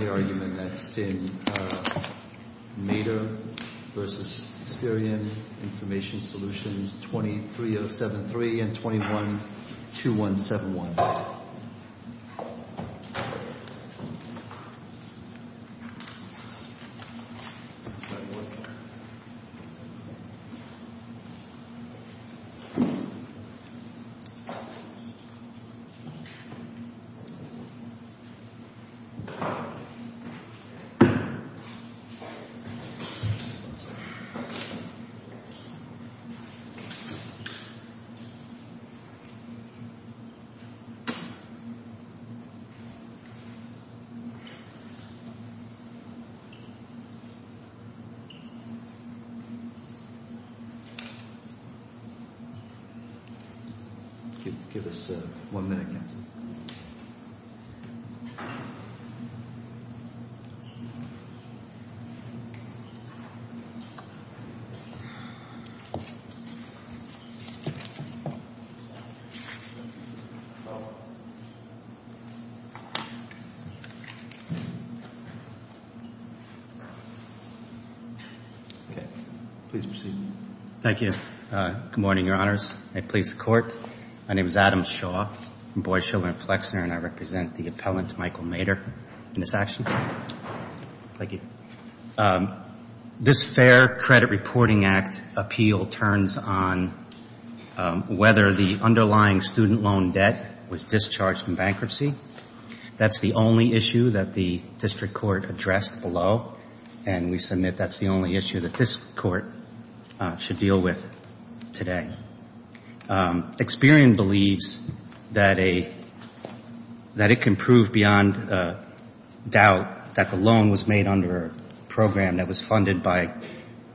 23.073 and 21.2171. Okay. Please proceed. Thank you. Good morning, Your Honors. I please the Court. My name is Adam Shaw. I'm Boyd Sheldon Flexner and I represent the appellant Michael Mader in this action. Thank you. This Fair Credit Reporting Act appeal turns on whether the underlying student loan debt was discharged in bankruptcy. That's the only issue that the district court addressed below and we submit that's the only issue that this court should deal with today. Experian believes that it can prove beyond doubt that the loan was made under a program that was funded by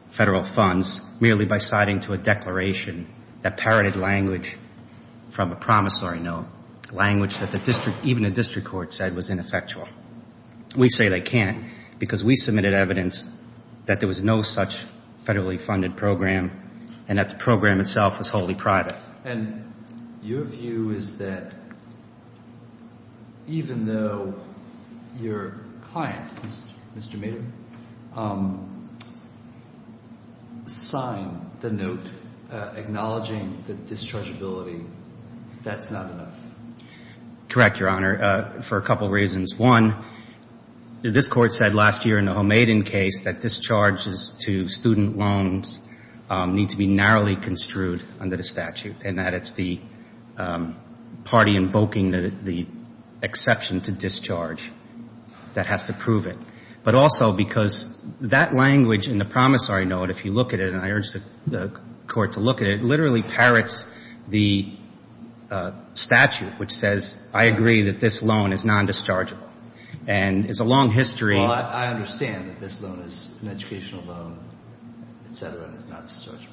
federal funds merely by citing to a declaration that parroted language from a promissory note, language that even the district court said was ineffectual. We say they can't because we submitted evidence that there was no such thing as a federally funded program and that the program itself was wholly private. And your view is that even though your client, Mr. Mader, signed the note acknowledging the dischargeability, that's not enough? Correct, Your Honor, for a couple reasons. One, this court said last year in the Hohmaden case that discharges to student loans need to be narrowly construed under the statute and that it's the party invoking the exception to discharge that has to prove it. But also because that language in the promissory note, if you look at it, and I urge the court to look at it, literally parrots the statute which says I agree that this loan is non-dischargeable. And it's a long history. Well, I understand that this loan is an educational loan, et cetera, and it's not dischargeable.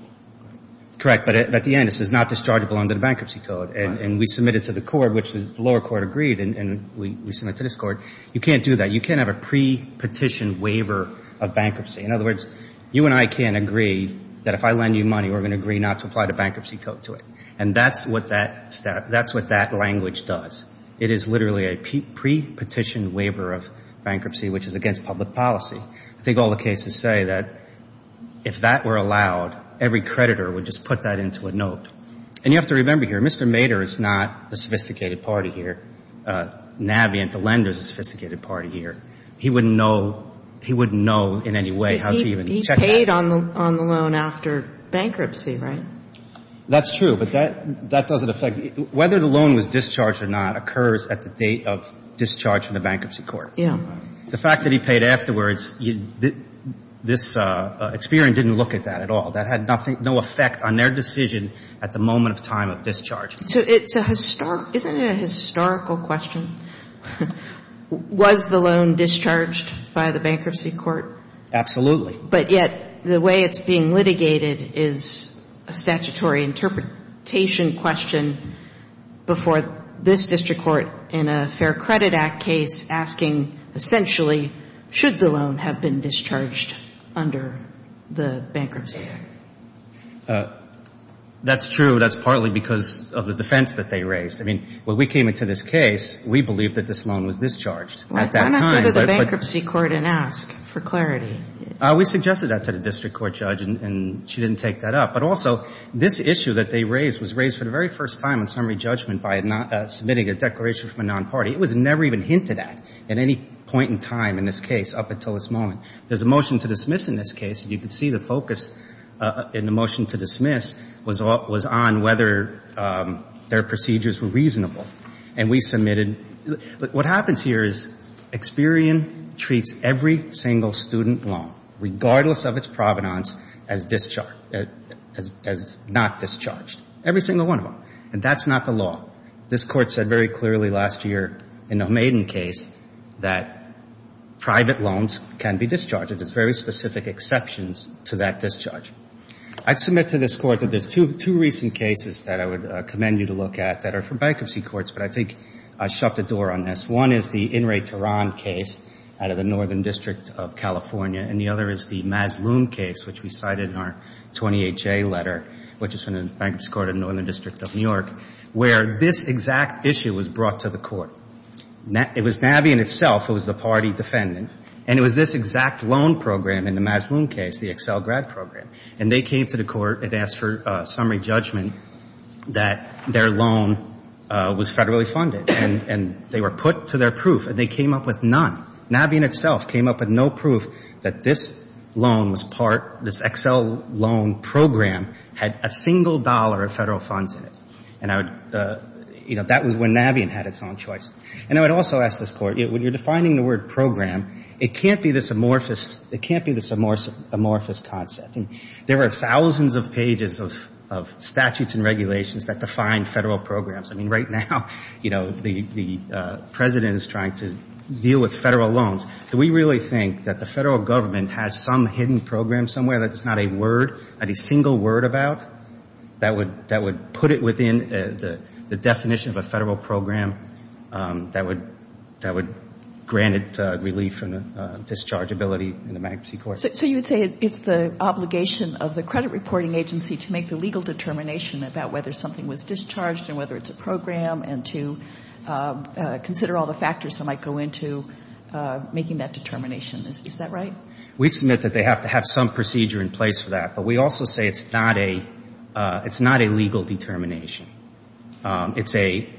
Correct. But at the end, it says not dischargeable under the bankruptcy code. And we submitted to the court, which the lower court agreed, and we submitted to this court, you can't do that. You can't have a pre-petition waiver of bankruptcy. In other words, you and I can't agree that if I lend you money, we're going to agree not to apply the bankruptcy code to it. And that's what that language does. It is literally a pre-petition waiver of bankruptcy, which is against public policy. I think all the cases say that if that were allowed, every creditor would just put that into a note. And you have to remember here, Mr. Mader is not a sophisticated party here. Navient, the lender, is a sophisticated party here. He wouldn't know in any way how to even check that. He paid on the loan after bankruptcy, right? That's true. But that doesn't affect you. Whether the loan was discharged or not occurs at the date of discharge from the bankruptcy court. Yeah. The fact that he paid afterwards, this experience didn't look at that at all. That had nothing, no effect on their decision at the moment of time of discharge. So it's a historic – isn't it a historical question? Was the loan discharged by the bankruptcy court? Absolutely. But yet, the way it's being litigated is a statutory interpretation question before this district court in a Fair Credit Act case asking, essentially, should the loan have been discharged under the bankruptcy act? That's true. That's partly because of the defense that they raised. I mean, when we came into this case, we believed that this loan was discharged at that time. Why not go to the bankruptcy court and ask for clarity? We suggested that to the district court judge, and she didn't take that up. But also, this issue that they raised was raised for the very first time in summary judgment by submitting a declaration from a non-party. It was never even hinted at at any point in time in this case up until this moment. There's a motion to dismiss in this case. You can see the focus in the motion to dismiss was on whether their procedures were reasonable. And we submitted – what happens here is Experian treats every single student loan, regardless of its provenance, as discharged – as not discharged. Every single one of them. And that's not the law. This Court said very clearly last year in the Maiden case that private loans can be discharged. There's very specific exceptions to that discharge. I'd submit to this Court that there's two recent cases that I would commend you to look at that are for bankruptcy courts, but I think I shut the door on this. One is the In re Terran case out of the Northern District of California, and the other is the Mazloom case, which we cited in our 28-J letter, which is from the Bankruptcy Court of the Northern District of New York, where this exact issue was brought to the Court. It was Nabi in itself who was the party defendant, and it was this exact loan program in the Mazloom case, the Excel grad program. And they came to the Court and asked for summary judgment that their loan was federally funded. And they were put to their proof, and they came up with none. Nabi in itself came up with no proof that this loan was part – this Excel loan program had a single dollar of federal funds in it. And I would – you know, that was when Nabi had its own choice. And I would also ask this Court, when you're defining the word program, it can't be this amorphous – it can't be this amorphous concept. There are thousands of pages of statutes and regulations that define federal programs. I mean, right now, you know, the President is trying to deal with federal loans. Do we really think that the federal government has some hidden program somewhere that's not a word, not a single word about, that would put it within the definition of a federal program that would grant it relief and dischargeability in the bankruptcy court? So you would say it's the obligation of the credit reporting agency to make the legal determination about whether something was discharged and whether it's a program and to consider all the factors that might go into making that determination. Is that right? We submit that they have to have some procedure in place for that. But we also say it's not a – it's not a legal determination. It's a –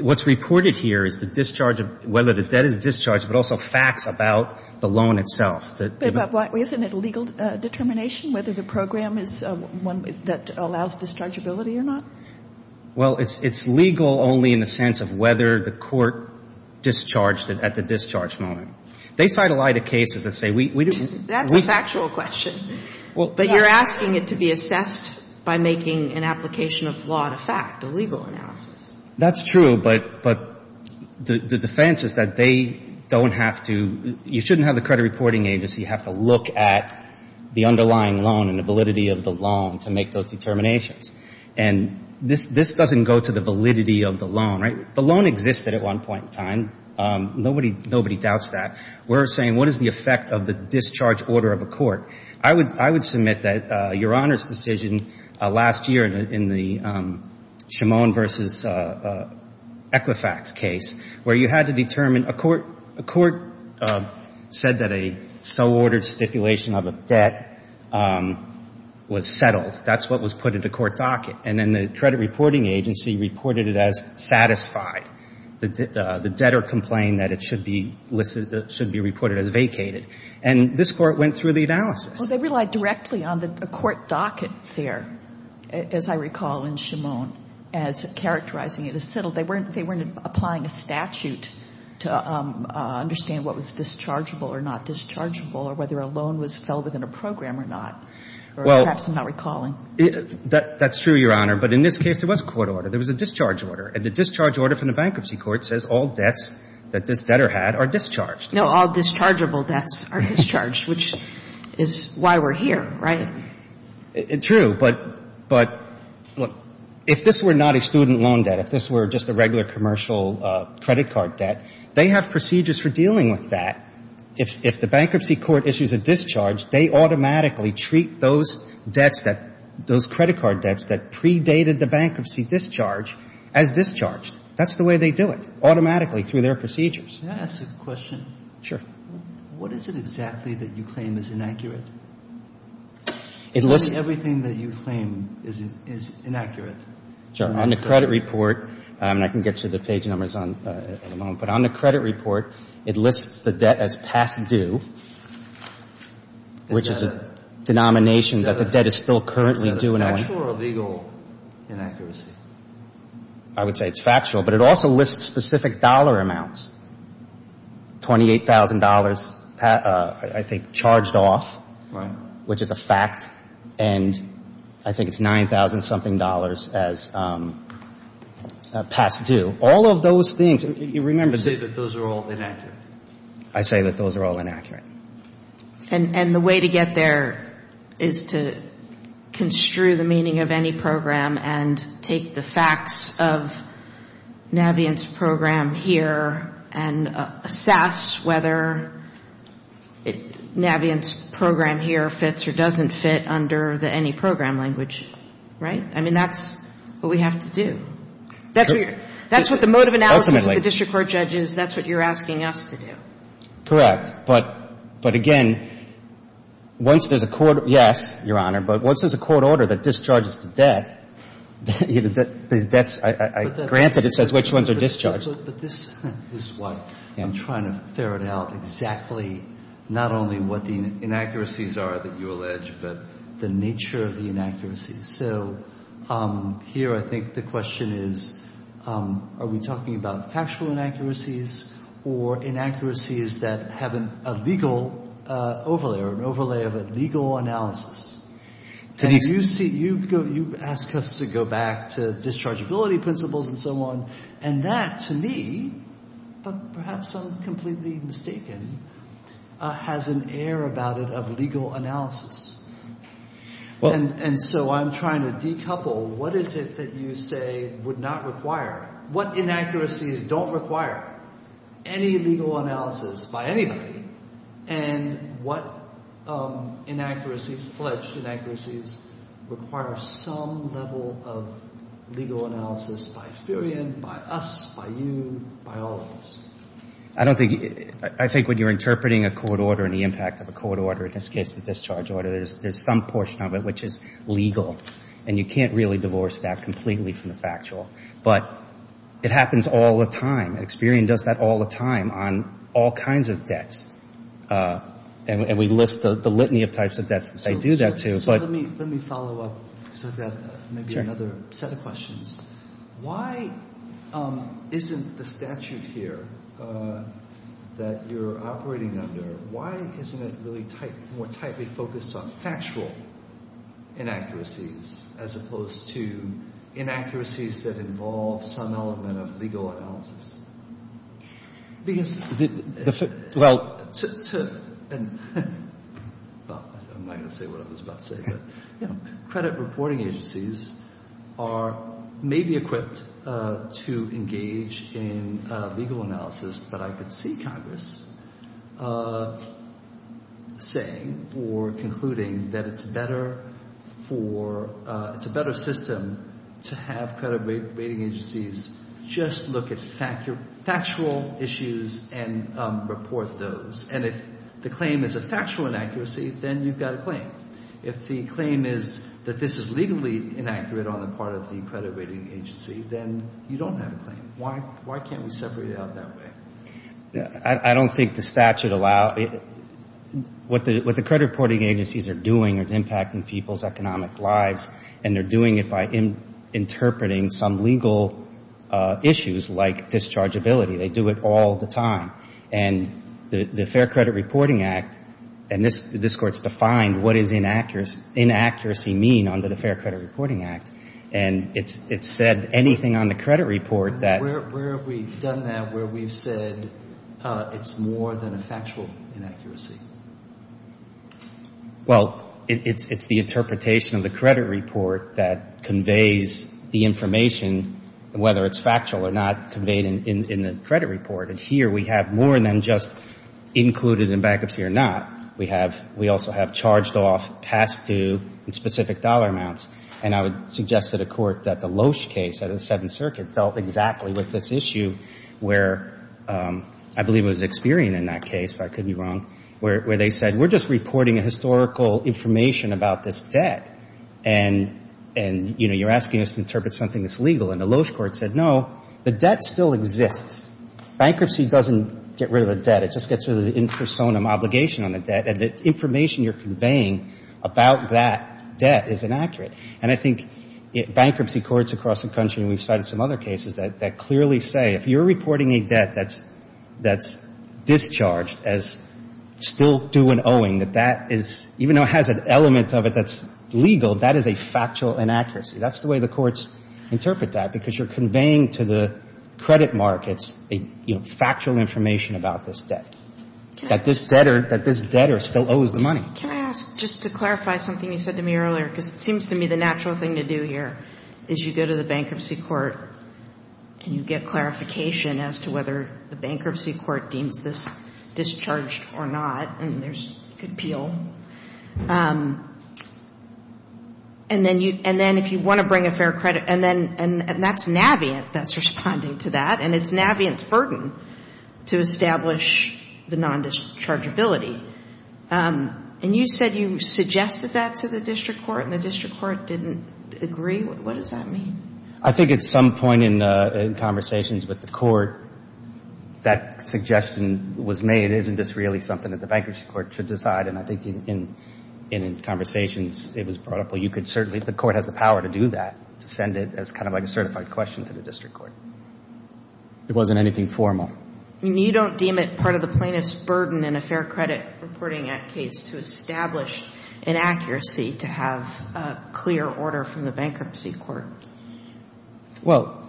what's reported here is the discharge of – whether the debt is discharged, but also facts about the loan itself. But isn't it a legal determination whether the program is one that allows dischargeability or not? Well, it's legal only in the sense of whether the court discharged it at the discharge moment. They cite a lot of cases that say we didn't – That's a factual question. But you're asking it to be assessed by making an application of law to fact, a legal analysis. That's true, but the defense is that they don't have to – you shouldn't have the credit reporting agency have to look at the underlying loan and the validity of the loan to make those determinations. And this doesn't go to the validity of the loan, right? The loan existed at one point in time. Nobody doubts that. We're saying what is the effect of the discharge order of a court? I would submit that Your Honor's decision last year in the Shimone v. Equifax case where you had to determine – a court said that a so-ordered stipulation of a debt was settled. That's what was put in the court docket. And then the credit reporting agency reported it as satisfied. The debtor complained that it should be reported as vacated. And this court went through the analysis. Well, they relied directly on the court docket there, as I recall in Shimone, as characterizing it as a statute to understand what was dischargeable or not dischargeable or whether a loan was filled within a program or not. Or perhaps I'm not recalling. That's true, Your Honor. But in this case, there was a court order. There was a discharge order. And the discharge order from the bankruptcy court says all debts that this debtor had are discharged. No, all dischargeable debts are discharged, which is why we're here, right? True. But if this were not a student loan debt, if this were just a regular commercial credit card debt, they have procedures for dealing with that. If the bankruptcy court issues a discharge, they automatically treat those debts that – those credit card debts that predated the bankruptcy discharge as discharged. That's the way they do it, automatically, through their procedures. Can I ask you a question? Sure. What is it exactly that you claim is inaccurate? It looks – Tell me everything that you claim is inaccurate. Sure. On the credit report – and I can get you the page numbers in a moment – but on the credit report, it lists the debt as past due, which is a denomination that the debt is still currently due. Is that factual or legal inaccuracy? I would say it's factual. But it also lists specific dollar amounts, $28,000, I think, charged off, which is a fact. And I think it's $9,000-something as past due. All of those things – you remember – You say that those are all inaccurate. I say that those are all inaccurate. And the way to get there is to construe the meaning of any program and take the facts of Navient's program here and assess whether Navient's program here fits or doesn't fit under the any program language. Right? I mean, that's what we have to do. That's what the mode of analysis of the district court judge is. That's what you're asking us to do. Correct. But again, once there's a court – yes, Your Honor – but once there's a court order that discharges the debt, granted, it says which ones are discharged. But this is what I'm trying to ferret out exactly not only what the inaccuracies are that you allege but the nature of the inaccuracies. So here I think the question is are we talking about factual inaccuracies or inaccuracies that have a legal overlay or an overlay of a legal analysis? And you ask us to go back to dischargeability principles and so on. And that, to me – but perhaps I'm completely mistaken – has an air about it of legal analysis. And so I'm trying to decouple what is it that you say would not require – what inaccuracies don't require any legal analysis by anybody and what inaccuracies, pledged inaccuracies, require some level of legal analysis by Experian, by us, by you, by all of us. I don't think – I think when you're interpreting a court order and the impact of a court order, in this case a discharge order, there's some portion of it which is legal. And you can't really divorce that completely from the factual. But it happens all the time. Experian does that all the time on all kinds of debts. And we list the litany of types of debts that they do that to. But – So let me follow up. I've got maybe another set of questions. Why isn't the statute here that you're operating under, why isn't it really more tightly focused on factual inaccuracies as opposed to inaccuracies that involve some element of legal analysis? Because – Well – I'm not going to say what I was about to say. But credit reporting agencies are – may be equipped to engage in legal analysis, but I could see Congress saying or concluding that it's better for – it's a better system to have credit rating agencies just look at factual issues and report those. And if the claim is a factual inaccuracy, then you've got a claim. If the claim is that this is legally inaccurate on the part of the credit rating agency, then you don't have a claim. Why can't we separate it out that way? I don't think the statute allows – what the credit reporting agencies are doing is impacting people's economic lives. And they're doing it by interpreting some legal issues like dischargeability. They do it all the time. And the Fair Credit Reporting Act – and this Court's defined what does inaccuracy mean under the Fair Credit Reporting Act. And it's said anything on the credit report that – Where have we done that where we've said it's more than a factual inaccuracy? Well, it's the interpretation of the credit report that conveys the information, whether it's factual or not, conveyed in the credit report. And here we have more than just included in bankruptcy or not. We have – we also have charged off past due and specific dollar amounts. And I would suggest to the Court that the Loesch case at the Seventh Circuit dealt exactly with this issue where – I believe it was Experian in that case, if I could be wrong – where they said we're just reporting historical information about this debt. And, you know, you're asking us to interpret something that's legal. And the Loesch Court said no, the debt still exists. Bankruptcy doesn't get rid of the debt. It just gets rid of the intersonim obligation on the debt. And the information you're conveying about that debt is inaccurate. And I think bankruptcy courts across the country – and we've cited some other cases – that clearly say if you're reporting a debt that's discharged as still due and owing, that that is – even though it has an element of it that's legal, that is a factual inaccuracy. That's the way the courts interpret that, because you're conveying to the credit markets factual information about this debt, that this is a debt or still owes the money. Can I ask, just to clarify something you said to me earlier? Because it seems to me the natural thing to do here is you go to the bankruptcy court and you get clarification as to whether the bankruptcy court deems this discharged or not. And there's a good appeal. And then if you want to bring a fair credit – and that's Navient that's responding to that. And it's Navient's burden to establish the non-dischargeability. And you said you suggested that to the district court, and the district court didn't agree? What does that mean? I think at some point in conversations with the court that suggestion was made, isn't this really something that the bankruptcy court should decide? And I think in conversations it was brought up, well, you could certainly – the court has the power to do that, to send it as kind of like a certified question to the court. I mean, you don't deem it part of the plaintiff's burden in a fair credit reporting act case to establish an accuracy to have a clear order from the bankruptcy court? Well,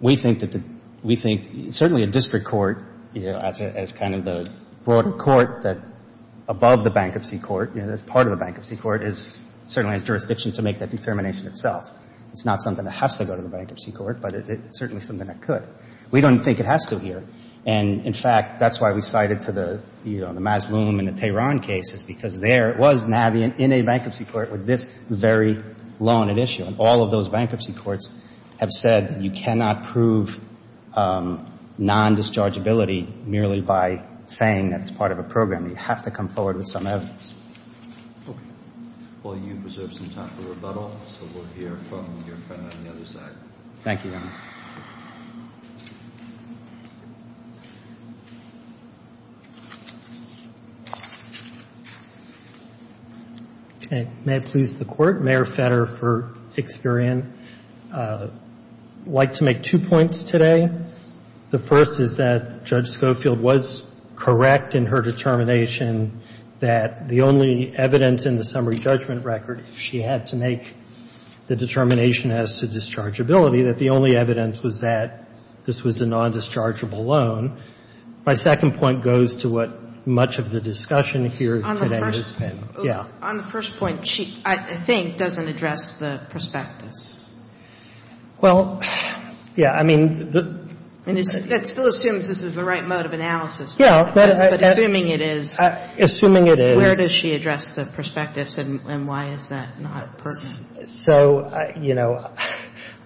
we think that the – we think certainly a district court as kind of the broader court that above the bankruptcy court, as part of the bankruptcy court, is certainly a jurisdiction to make that determination itself. It's not something that has to go to the bankruptcy court, but it's certainly something that could. We don't think it has to here. And, in fact, that's why we cited to the, you know, the Mazloom and the Tehran cases, because there was nabbing in a bankruptcy court with this very loan at issue. And all of those bankruptcy courts have said that you cannot prove non-dischargeability merely by saying that it's part of a program. You have to come forward with some evidence. Well, you preserved some time for rebuttal, so we'll hear from your friend on the floor. Okay. May it please the Court? Mayor Fetter for Experian. I'd like to make two points today. The first is that Judge Schofield was correct in her determination that the only evidence in the summary judgment record, if she had to make the determination as to whether or not this was a non-dischargeable loan. My second point goes to what much of the discussion here today has been. On the first point, she, I think, doesn't address the perspectives. Well, yeah. I mean, the — That still assumes this is the right mode of analysis. Yeah. But assuming it is — Assuming it is — Where does she address the perspectives, and why is that not pertinent? So, you know,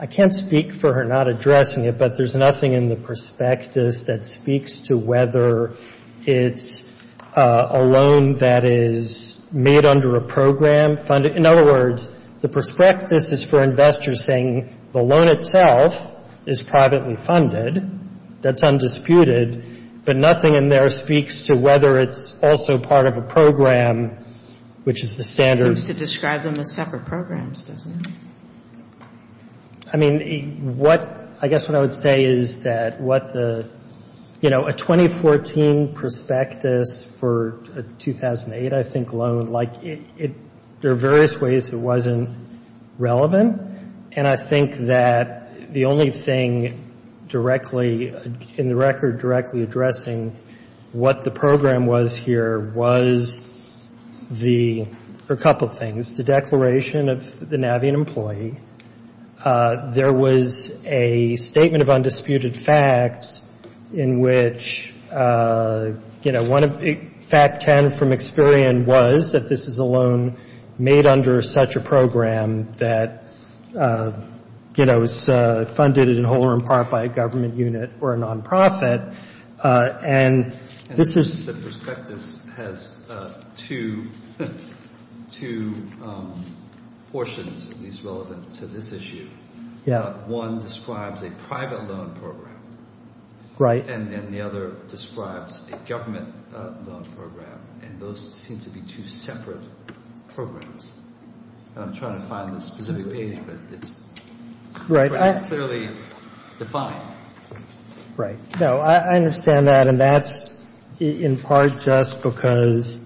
I can't speak for her not addressing it, but there's nothing in the perspectives that speaks to whether it's a loan that is made under a program — in other words, the perspectives is for investors saying the loan itself is privately funded, that's undisputed, but nothing in there speaks to whether it's also part of a program, which is the standard — terms, doesn't it? I mean, what — I guess what I would say is that what the — you know, a 2014 prospectus for a 2008, I think, loan, like, it — there are various ways it wasn't relevant, and I think that the only thing directly — in the record, directly addressing what the program was here was the — or a couple of things. The declaration of the Navian employee. There was a statement of undisputed facts in which, you know, one of — fact 10 from Experian was that this is a loan made under such a program that, you know, is funded in whole or in part by a government unit or a nonprofit, and this is — two portions, at least relevant to this issue. One describes a private loan program, and then the other describes a government loan program, and those seem to be two separate programs. And I'm trying to find the specific page, but it's clearly defined. Right. No, I understand that, and that's in —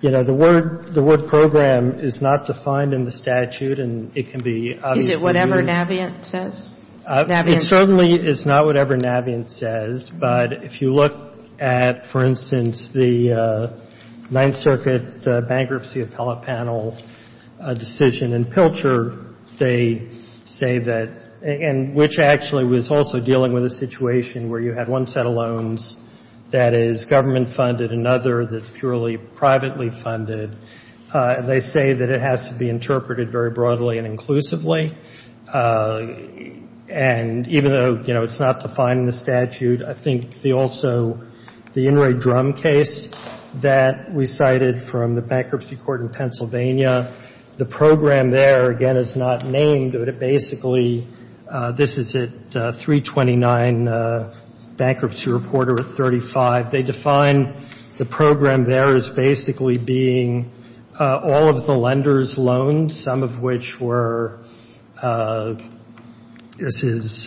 you know, the word — the word program is not defined in the statute, and it can be obviously used. Is it whatever Navient says? Navient? It certainly is not whatever Navient says, but if you look at, for instance, the Ninth Circuit bankruptcy appellate panel decision in Pilcher, they say that — and which actually was also dealing with a situation where you had one set of loans that is government-funded, another that's purely privately funded, and they say that it has to be interpreted very broadly and inclusively. And even though, you know, it's not defined in the statute, I think the also — the In re Drum case that we cited from the bankruptcy court in Pennsylvania, the program there, again, is not named, but it basically — this is it, 329 bankruptcy reporter 35. They define the program there as basically being all of the lenders' loans, some of which were — this is —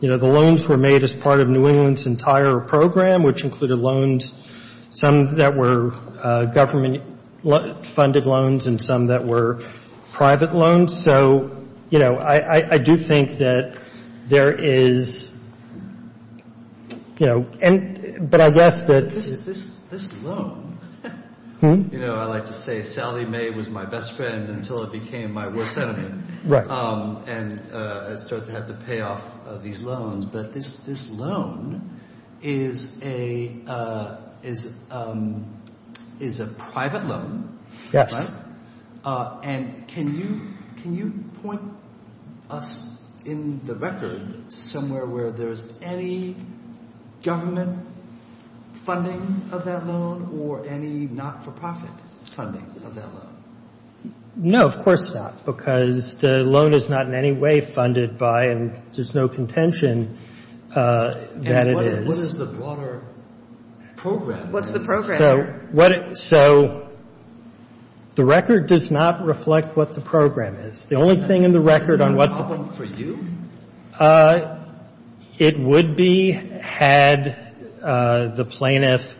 you know, the loans were made as part of New England's entire program, which included loans, some that were government-funded loans and some that were private loans. So, you know, I do think that there is — you know, but I guess that — This loan — you know, I like to say, Sally May was my best friend until it became my worst enemy. And I started to have to pay off these loans. But this loan is a private loan. And can you point us in the record to somewhere where there's any government funding of that loan or any not-for-profit funding of that loan? No, of course not, because the loan is not in any way funded by — and there's no contention that it is. And what is the broader program? What's the program? So, what — so the record does not reflect what the program is. The only thing in the record on what the — Is that a problem for you? It would be had the plaintiff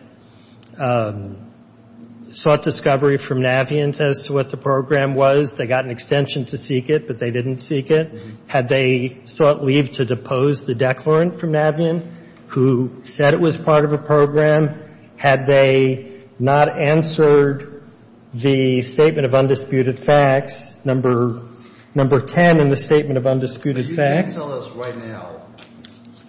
sought discovery from Navient as to what the program was. They got an extension to seek it, but they didn't seek it. Had they sought leave to depose the declarant from Navient who said it was part of a program? Had they not answered the statement of undisputed facts, number 10 in the statement of undisputed facts? But you can't tell us right now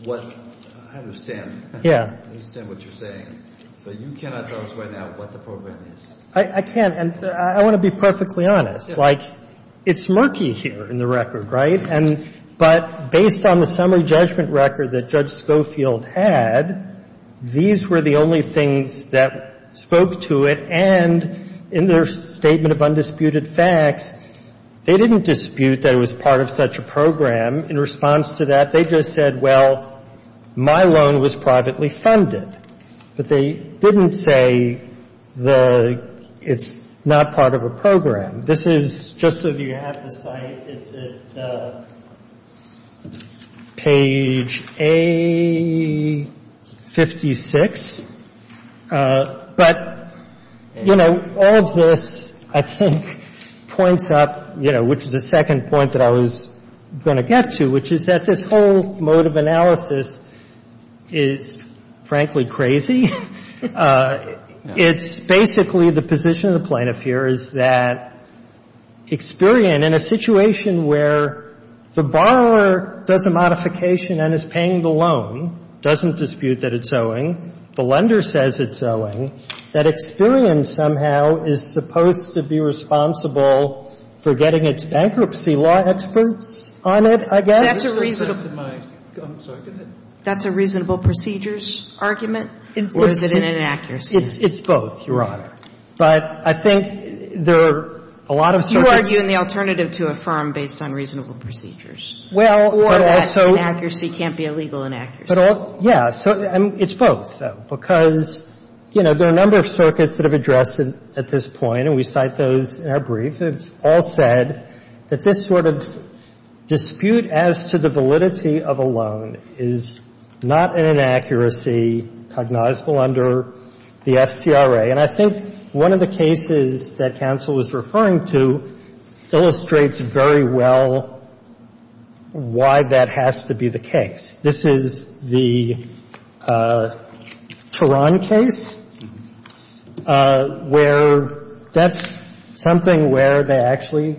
what — I understand. Yeah. I understand what you're saying. But you cannot tell us right now what the program is. I can't. And I want to be perfectly honest. Like, it's murky here in the record, right? And — but based on the summary judgment record that Judge Spofield had, these were the only things that spoke to it. And in their statement of undisputed facts, they didn't dispute that it was part of such a program. In response to that, they just said, well, my loan was privately funded. But they didn't say the — it's not part of a program. This is — just so you have the site, it's at page A56. But, you know, all of this, I think, points up, you know, which is the second point that I was going to get to, which is that this whole mode of analysis is, frankly, crazy. It's basically — the position of the plaintiff here is that Experian, in a situation where the borrower does a modification and is paying the loan, doesn't dispute that it's owned by the lender, but the lender says it's owing, that Experian somehow is supposed to be responsible for getting its bankruptcy law experts on it, I guess? That's a reasonable — I'm sorry. That's a reasonable procedures argument, or is it an inaccuracy? It's both, Your Honor. But I think there are a lot of — You argue in the alternative to affirm based on reasonable procedures. Well, but also — Or that inaccuracy can't be a legal inaccuracy. But also — yeah. So it's both, though, because, you know, there are a number of circuits that have addressed it at this point, and we cite those in our briefs that have all said that this sort of dispute as to the validity of a loan is not an inaccuracy cognizable under the FCRA. And I think one of the cases that counsel was referring to illustrates very well why that has to be the case. This is the Turan case, where that's something where they actually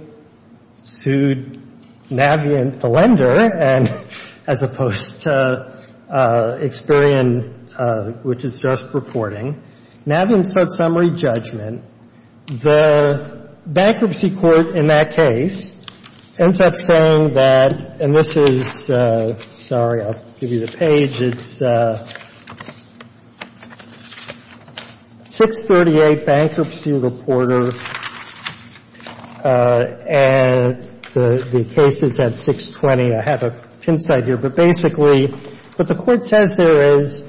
sued Navient, the lender, as opposed to Experian, which is just purporting. Navient set summary judgment. And the bankruptcy court in that case ends up saying that — and this is — sorry, I'll give you the page. It's 638 Bankruptcy Reporter, and the case is at 620. I have a pincite here. But basically, what the Court says there is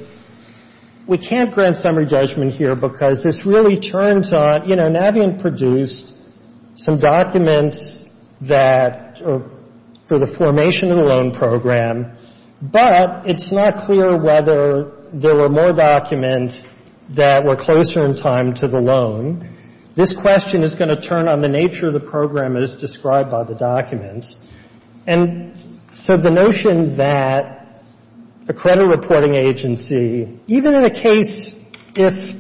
we can't grant summary judgment here because this really turns on — you know, Navient produced some documents that — for the formation of the loan program, but it's not clear whether there were more documents that were closer in time to the loan. This question is going to turn on the nature of the program as described by the documents. And so the notion that the credit reporting agency, even in a case if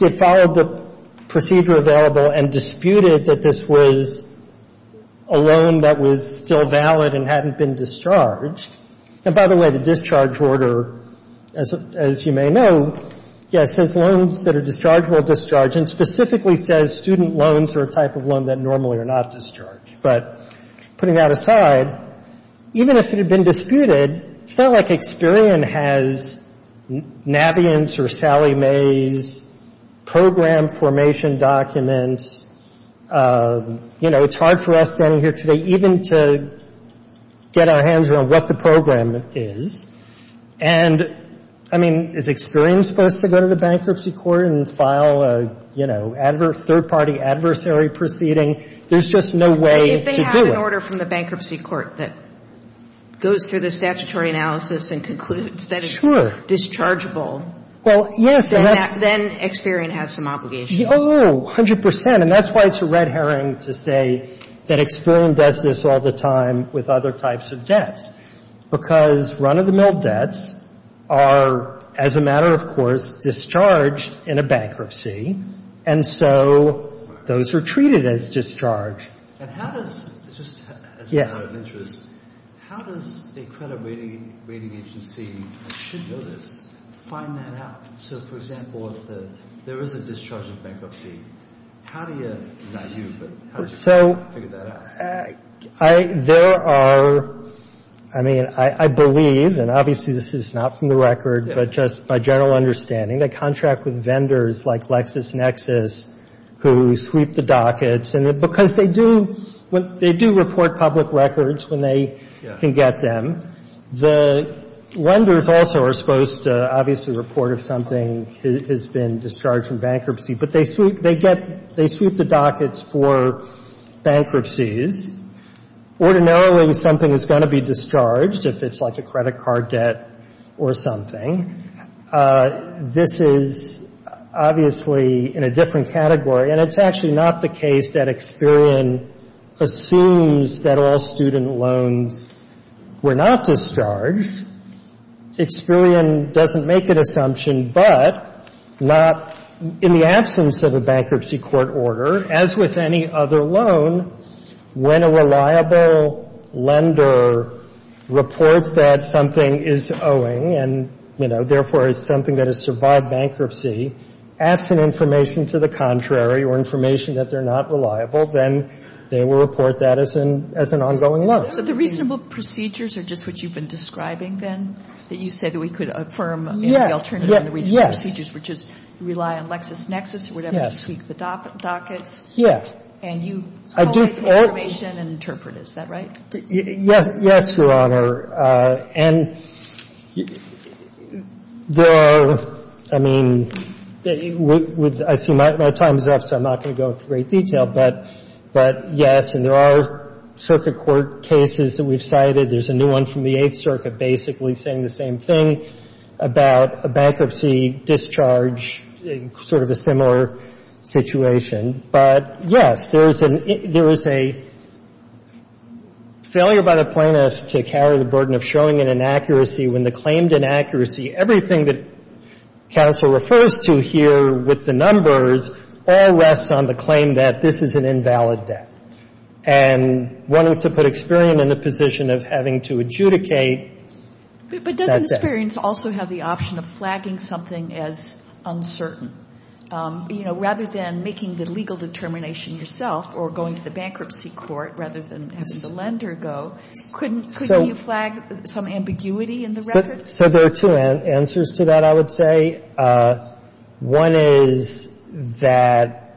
it followed the procedure available and disputed that this was a loan that was still valid and hadn't been discharged — and by the way, the discharge order, as you may know, says loans that are discharged will discharge, and specifically says student loans are a type of loan that normally are not discharged. But putting that aside, even if it had been disputed, it's not like Experian has Navient's or Sally May's program formation documents. You know, it's hard for us standing here today even to get our hands around what the program is. And, I mean, is Experian supposed to go to the bankruptcy court and file a, you know, a third-party adversary proceeding? There's just no way to do it. But if they have an order from the bankruptcy court that goes through the statutory analysis and concludes that it's dischargeable, then Experian has some obligations. Oh, 100 percent. And that's why it's a red herring to say that Experian does this all the time with other types of debts, because run-of-the-mill debts are, as a matter of course, discharged in a bankruptcy, and so those are treated as discharged. And how does, just as a matter of interest, how does a credit rating agency, as it should be noticed, find that out? So, for example, if there is a discharge of bankruptcy, how do you, not you, but how do you figure that out? So, there are, I mean, I believe, and obviously this is not from the record, but just my general understanding, they contract with vendors like LexisNexis who sweep the dockets, because they do report public records when they can get them. The vendors also are supposed to obviously report if something has been discharged from bankruptcy, but they sweep the dockets for bankruptcies. Ordinarily, something is going to be discharged if it's like a credit card debt or something. This is obviously in a different category, and it's actually not the case that Experian assumes that all student loans were not discharged. Experian doesn't make an assumption, but not in the absence of a bankruptcy court order, as with any other loan, when a reliable lender reports that something is owing and, you know, therefore, it's something that has survived bankruptcy, adds some information to the contrary or information that they're not reliable, then they will report that as an ongoing loan. So the reasonable procedures are just what you've been describing then, that you said that we could affirm the alternative and the reasonable procedures, which is rely on LexisNexis or whatever to sweep the dockets. Yeah. And you collect information and interpret. Is that right? Yes, Your Honor. And there are, I mean, I see my time is up, so I'm not going to go into great detail. But, yes, and there are circuit court cases that we've cited. There's a new one from the Eighth Circuit basically saying the same thing about a bankruptcy discharge, sort of a similar situation. But, yes, there is a failure by the plaintiff to carry the burden of showing an inaccuracy when the claimed inaccuracy, everything that counsel refers to here with the numbers, all rests on the claim that this is an invalid debt. And one ought to put Experian in the position of having to adjudicate that debt. Experian's also have the option of flagging something as uncertain. You know, rather than making the legal determination yourself or going to the bankruptcy court rather than have Solender go, couldn't you flag some ambiguity in the record? So there are two answers to that, I would say. One is that,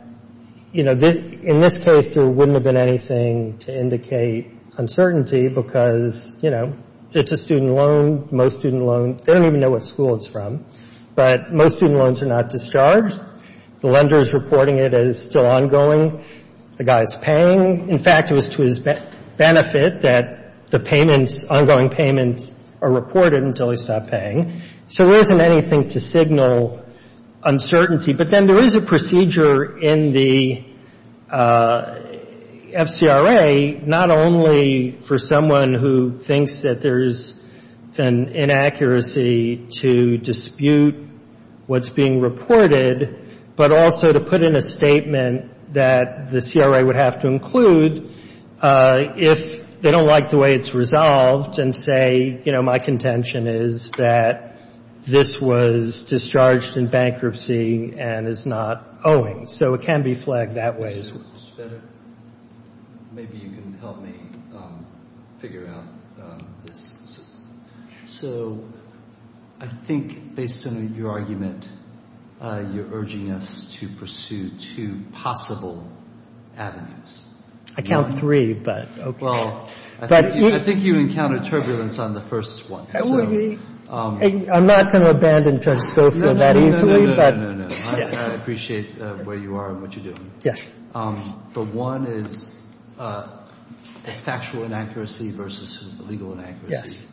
you know, in this case there wouldn't have been anything to indicate uncertainty because, you know, it's a student loan, most student loans. They don't even know what school it's from. But most student loans are not discharged. The lender is reporting it as still ongoing. The guy is paying. In fact, it was to his benefit that the payments, ongoing payments, are reported until he stopped paying. So there isn't anything to signal uncertainty. But then there is a procedure in the FCRA not only for someone who thinks that there is an inaccuracy to dispute what's being reported, but also to put in a statement that the CRA would have to include if they don't like the way it's resolved and say, you know, my contention is that this was discharged in bankruptcy and is not owing. So it can be flagged that way as well. Maybe you can help me figure out this. So I think based on your argument, you're urging us to pursue two possible avenues. I count three, but okay. Well, I think you encountered turbulence on the first one. I'm not going to abandon Judge Schofield that easily. No, no, no, no, no. I appreciate where you are and what you're doing. Yes. But one is a factual inaccuracy versus a legal inaccuracy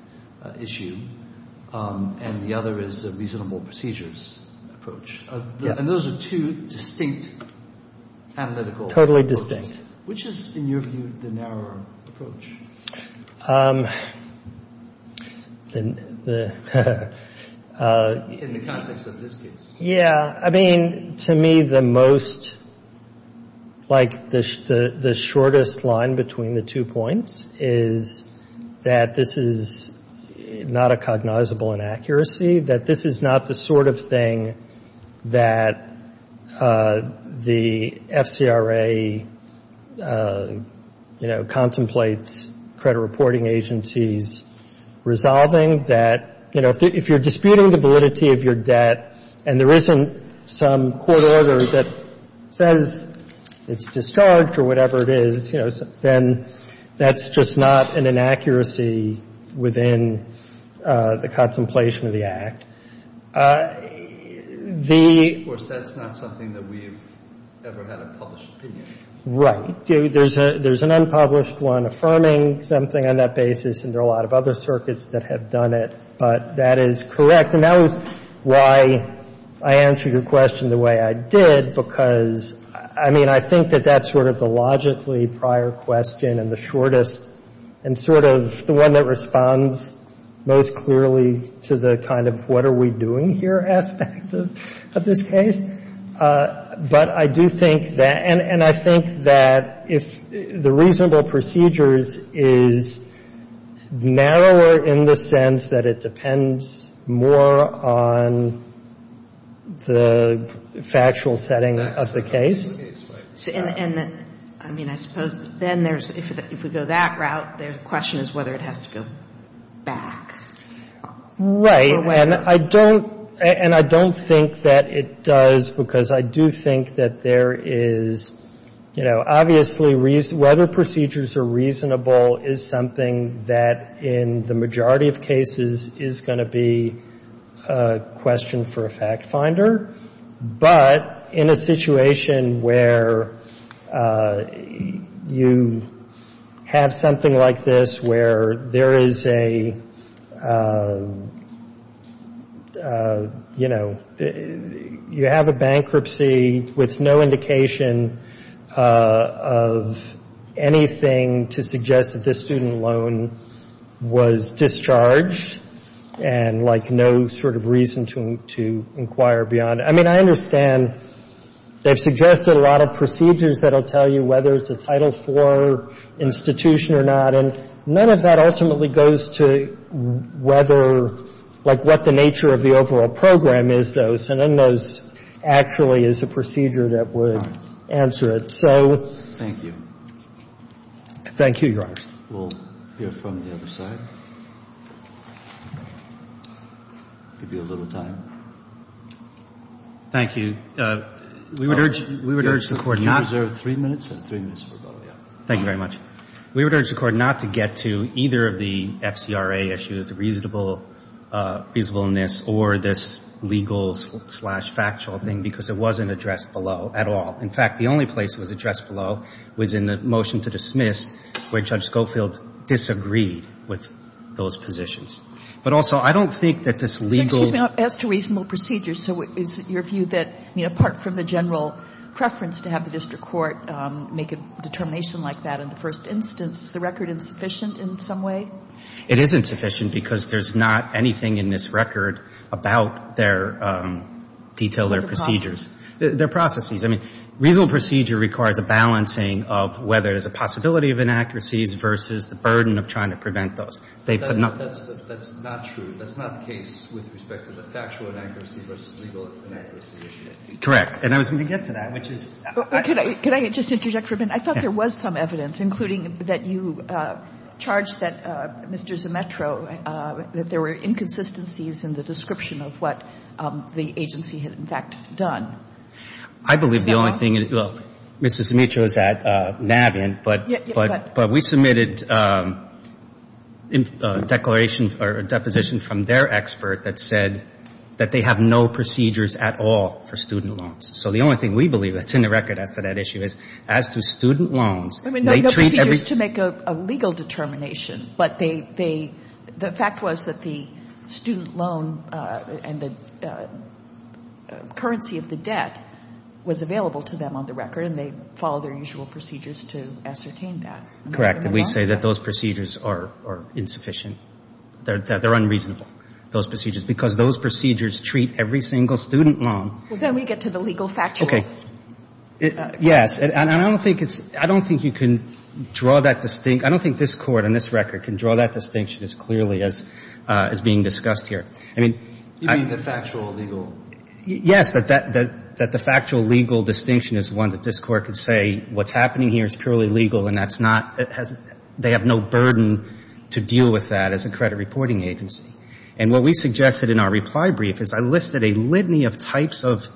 issue. And the other is a reasonable procedures approach. And those are two distinct analytical approaches. Totally distinct. Which is, in your view, the narrower approach in the context of this case? Yeah. I mean, to me the most, like the shortest line between the two points is that this is not a cognizable inaccuracy, that this is not the sort of thing that the FCRA, you know, contemplates credit reporting agencies resolving, that, you know, if you're disputing the validity of your debt and there isn't some court order that says it's discharged or whatever it is, you know, then that's just not an inaccuracy within the contemplation of the act. Of course, that's not something that we've ever had a published opinion. Right. There's an unpublished one affirming something on that basis, and there are a lot of other circuits that have done it, but that is correct. And that was why I answered your question the way I did, because, I mean, I think that that's sort of the logically prior question and the shortest and sort of the one that responds most clearly to the kind of what are we doing here aspect of this case. But I do think that, and I think that if the reasonable procedures is narrower in the sense that it depends more on the factual setting of the case. And I mean, I suppose then there's, if we go that route, the question is whether it has to go back. Right. And I don't think that it does, because I do think that there is, you know, obviously whether procedures are reasonable is something that in the majority of cases is going to be a question for a fact finder. But in a situation where you have something like this, where there is a, you know, you have a bankruptcy with no indication of anything to suggest that this student loan was discharged and like no sort of reason to inquire beyond. I mean, I understand they've suggested a lot of procedures that will tell you whether it's a Title IV institution or not. And none of that ultimately goes to whether, like what the nature of the overall program is, though. So none of those actually is a procedure that would answer it. So. Thank you. Thank you, Your Honor. We'll hear from the other side. Give you a little time. Thank you. We would urge the Court not to. You reserve three minutes. I have three minutes for both, yeah. Thank you very much. We would urge the Court not to get to either of the FCRA issues, the reasonableness or this legal-slash-factual thing, because it wasn't addressed below at all. In fact, the only place it was addressed below was in the motion to dismiss, where Judge Schofield disagreed with those positions. But also, I don't think that this legal. Excuse me. As to reasonable procedures, so is your view that, you know, apart from the general preference to have the district court make a determination like that in the first instance, is the record insufficient in some way? It is insufficient because there's not anything in this record about their detailed or procedures. Their processes. Their processes. I mean, reasonable procedure requires a balancing of whether there's a possibility of inaccuracies versus the burden of trying to prevent those. That's not true. That's not the case with respect to the factual inaccuracy versus legal inaccuracy issue. Correct. And I was going to get to that, which is. Could I just interject for a minute? I thought there was some evidence, including that you charged that Mr. Zmetro, that there were inconsistencies in the description of what the agency had, in fact, done. I believe the only thing. Well, Mr. Zmetro is at NABINT, but we submitted a declaration or a deposition from their expert that said that they have no procedures at all for student loans. So the only thing we believe that's in the record as to that issue is as to student loans. I mean, no procedures to make a legal determination, but they. The fact was that the student loan and the currency of the debt was available to them on the record, and they followed their usual procedures to ascertain that. Correct. And we say that those procedures are insufficient. They're unreasonable, those procedures, because those procedures treat every single student loan. Well, then we get to the legal factual. Okay. Yes. And I don't think it's. I don't think you can draw that distinct. I don't think this Court on this record can draw that distinction as clearly as being discussed here. I mean. You mean the factual legal. Yes. That the factual legal distinction is one that this Court could say what's happening here is purely legal, and that's not. They have no burden to deal with that as a credit reporting agency. And what we suggested in our reply brief is I listed a litany of types of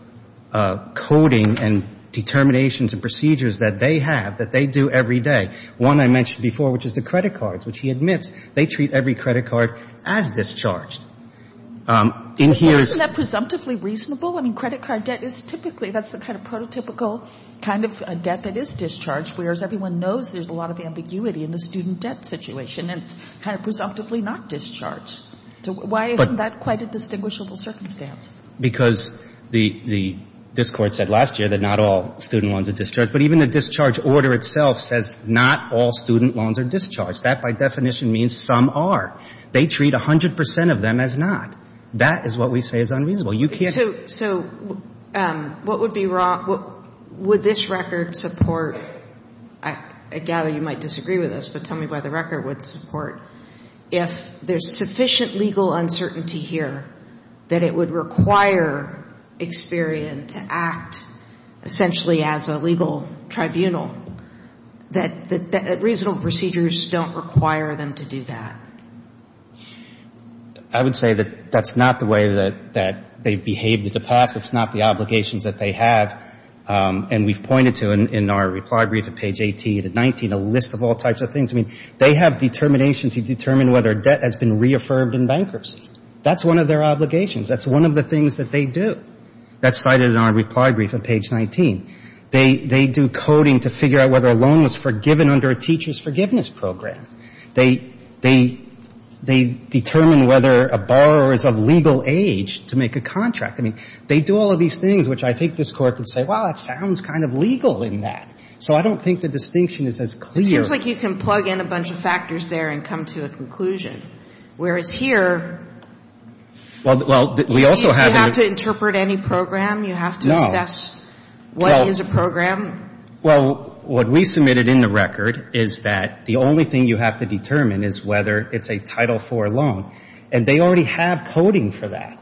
coding and determinations and procedures that they have, that they do every day. One I mentioned before, which is the credit cards, which he admits they treat every credit card as discharged. Isn't that presumptively reasonable? I mean, credit card debt is typically, that's the kind of prototypical kind of debt that is discharged, whereas everyone knows there's a lot of ambiguity in the student debt situation, and it's kind of presumptively not discharged. Why isn't that quite a distinguishable circumstance? Because the, this Court said last year that not all student loans are discharged, but even the discharge order itself says not all student loans are discharged. That, by definition, means some are. They treat 100 percent of them as not. That is what we say is unreasonable. You can't. So what would be wrong, would this record support, I gather you might disagree with us, but tell me what the record would support, if there's sufficient legal uncertainty here that it would require Experian to act essentially as a legal tribunal, that reasonable procedures don't require them to do that? I would say that that's not the way that they've behaved in the past. It's not the obligations that they have. And we've pointed to in our reply brief at page 18 and 19 a list of all types of things. I mean, they have determination to determine whether debt has been reaffirmed in bankruptcy. That's one of their obligations. That's one of the things that they do. That's cited in our reply brief at page 19. They do coding to figure out whether a loan was forgiven under a teacher's forgiveness program. They determine whether a borrower is of legal age to make a contract. I mean, they do all of these things, which I think this Court could say, well, it sounds kind of legal in that. So I don't think the distinction is as clear. It seems like you can plug in a bunch of factors there and come to a conclusion, whereas here you have to interpret any program. You have to assess what is a program. Well, what we submitted in the record is that the only thing you have to determine is whether it's a Title IV loan. And they already have coding for that.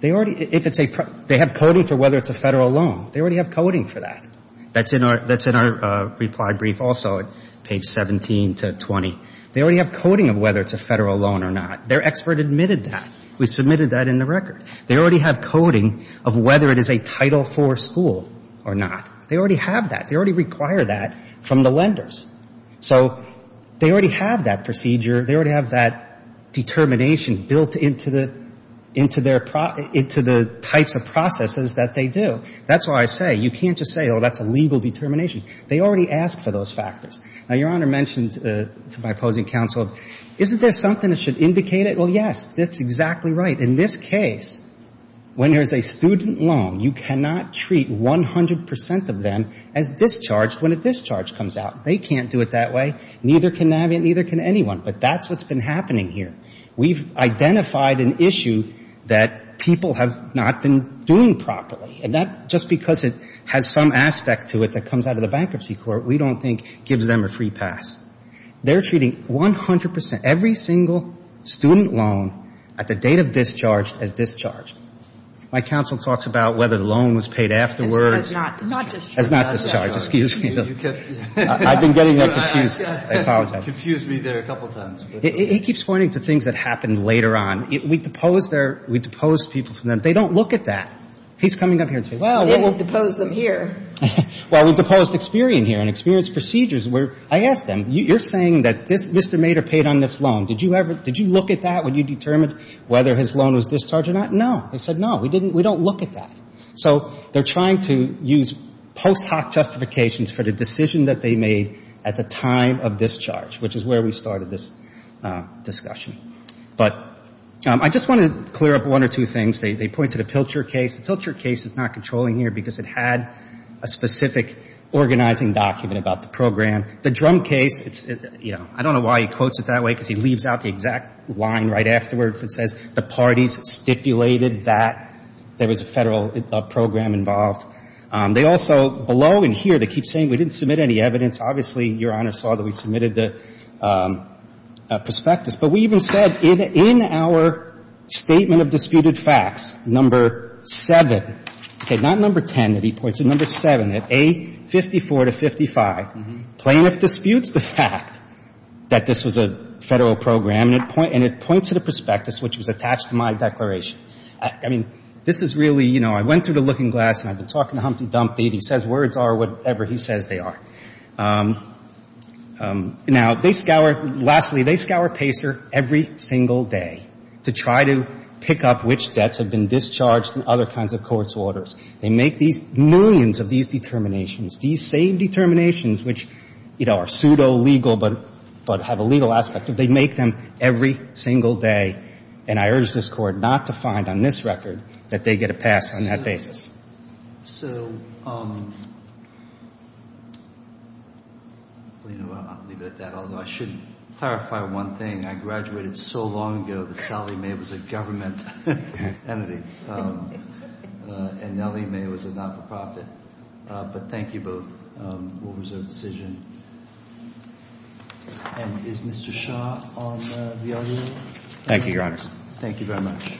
They have coding for whether it's a Federal loan. They already have coding for that. That's in our reply brief also at page 17 to 20. They already have coding of whether it's a Federal loan or not. Their expert admitted that. We submitted that in the record. They already have coding of whether it is a Title IV school or not. They already have that. They already require that from the lenders. So they already have that procedure. They already have that determination built into the types of processes that they do. That's why I say you can't just say, oh, that's a legal determination. They already ask for those factors. Now, Your Honor mentioned to my opposing counsel, isn't there something that should indicate it? Well, yes, that's exactly right. But in this case, when there's a student loan, you cannot treat 100 percent of them as discharged when a discharge comes out. They can't do it that way. Neither can Navient. Neither can anyone. But that's what's been happening here. We've identified an issue that people have not been doing properly. And that's just because it has some aspect to it that comes out of the bankruptcy court we don't think gives them a free pass. They're treating 100 percent, every single student loan at the date of discharge as discharged. My counsel talks about whether the loan was paid afterwards. As not discharged. As not discharged. Excuse me. I've been getting confused. I apologize. You confused me there a couple times. He keeps pointing to things that happened later on. We deposed people from them. They don't look at that. He's coming up here and saying, well, we're going to depose them here. You're saying that Mr. Mader paid on this loan. Did you look at that when you determined whether his loan was discharged or not? No. They said no. We don't look at that. So they're trying to use post hoc justifications for the decision that they made at the time of discharge, which is where we started this discussion. But I just want to clear up one or two things. They point to the Pilcher case. The Pilcher case is not controlling here because it had a specific organizing document about the program. The Drum case, you know, I don't know why he quotes it that way because he leaves out the exact line right afterwards that says the parties stipulated that there was a Federal program involved. They also, below and here, they keep saying we didn't submit any evidence. Obviously, Your Honor saw that we submitted the prospectus. But we even said in our statement of disputed facts, number 7, okay, not number 10 that disputes the fact that this was a Federal program and it points to the prospectus which was attached to my declaration. I mean, this is really, you know, I went through the looking glass and I've been talking to Humpty Dumpty and he says words are whatever he says they are. Now, they scour, lastly, they scour Pacer every single day to try to pick up which debts have been discharged and other kinds of court's orders. They make these millions of these determinations. These same determinations which, you know, are pseudo-legal but have a legal aspect of it, they make them every single day. And I urge this Court not to find on this record that they get a pass on that basis. So, you know, I'll leave it at that, although I should clarify one thing. I graduated so long ago that Sally May was a government entity and Nellie May was a nonprofit, but thank you both. We'll reserve the decision. And is Mr. Shah on the audio? Thank you, Your Honors. Thank you very much.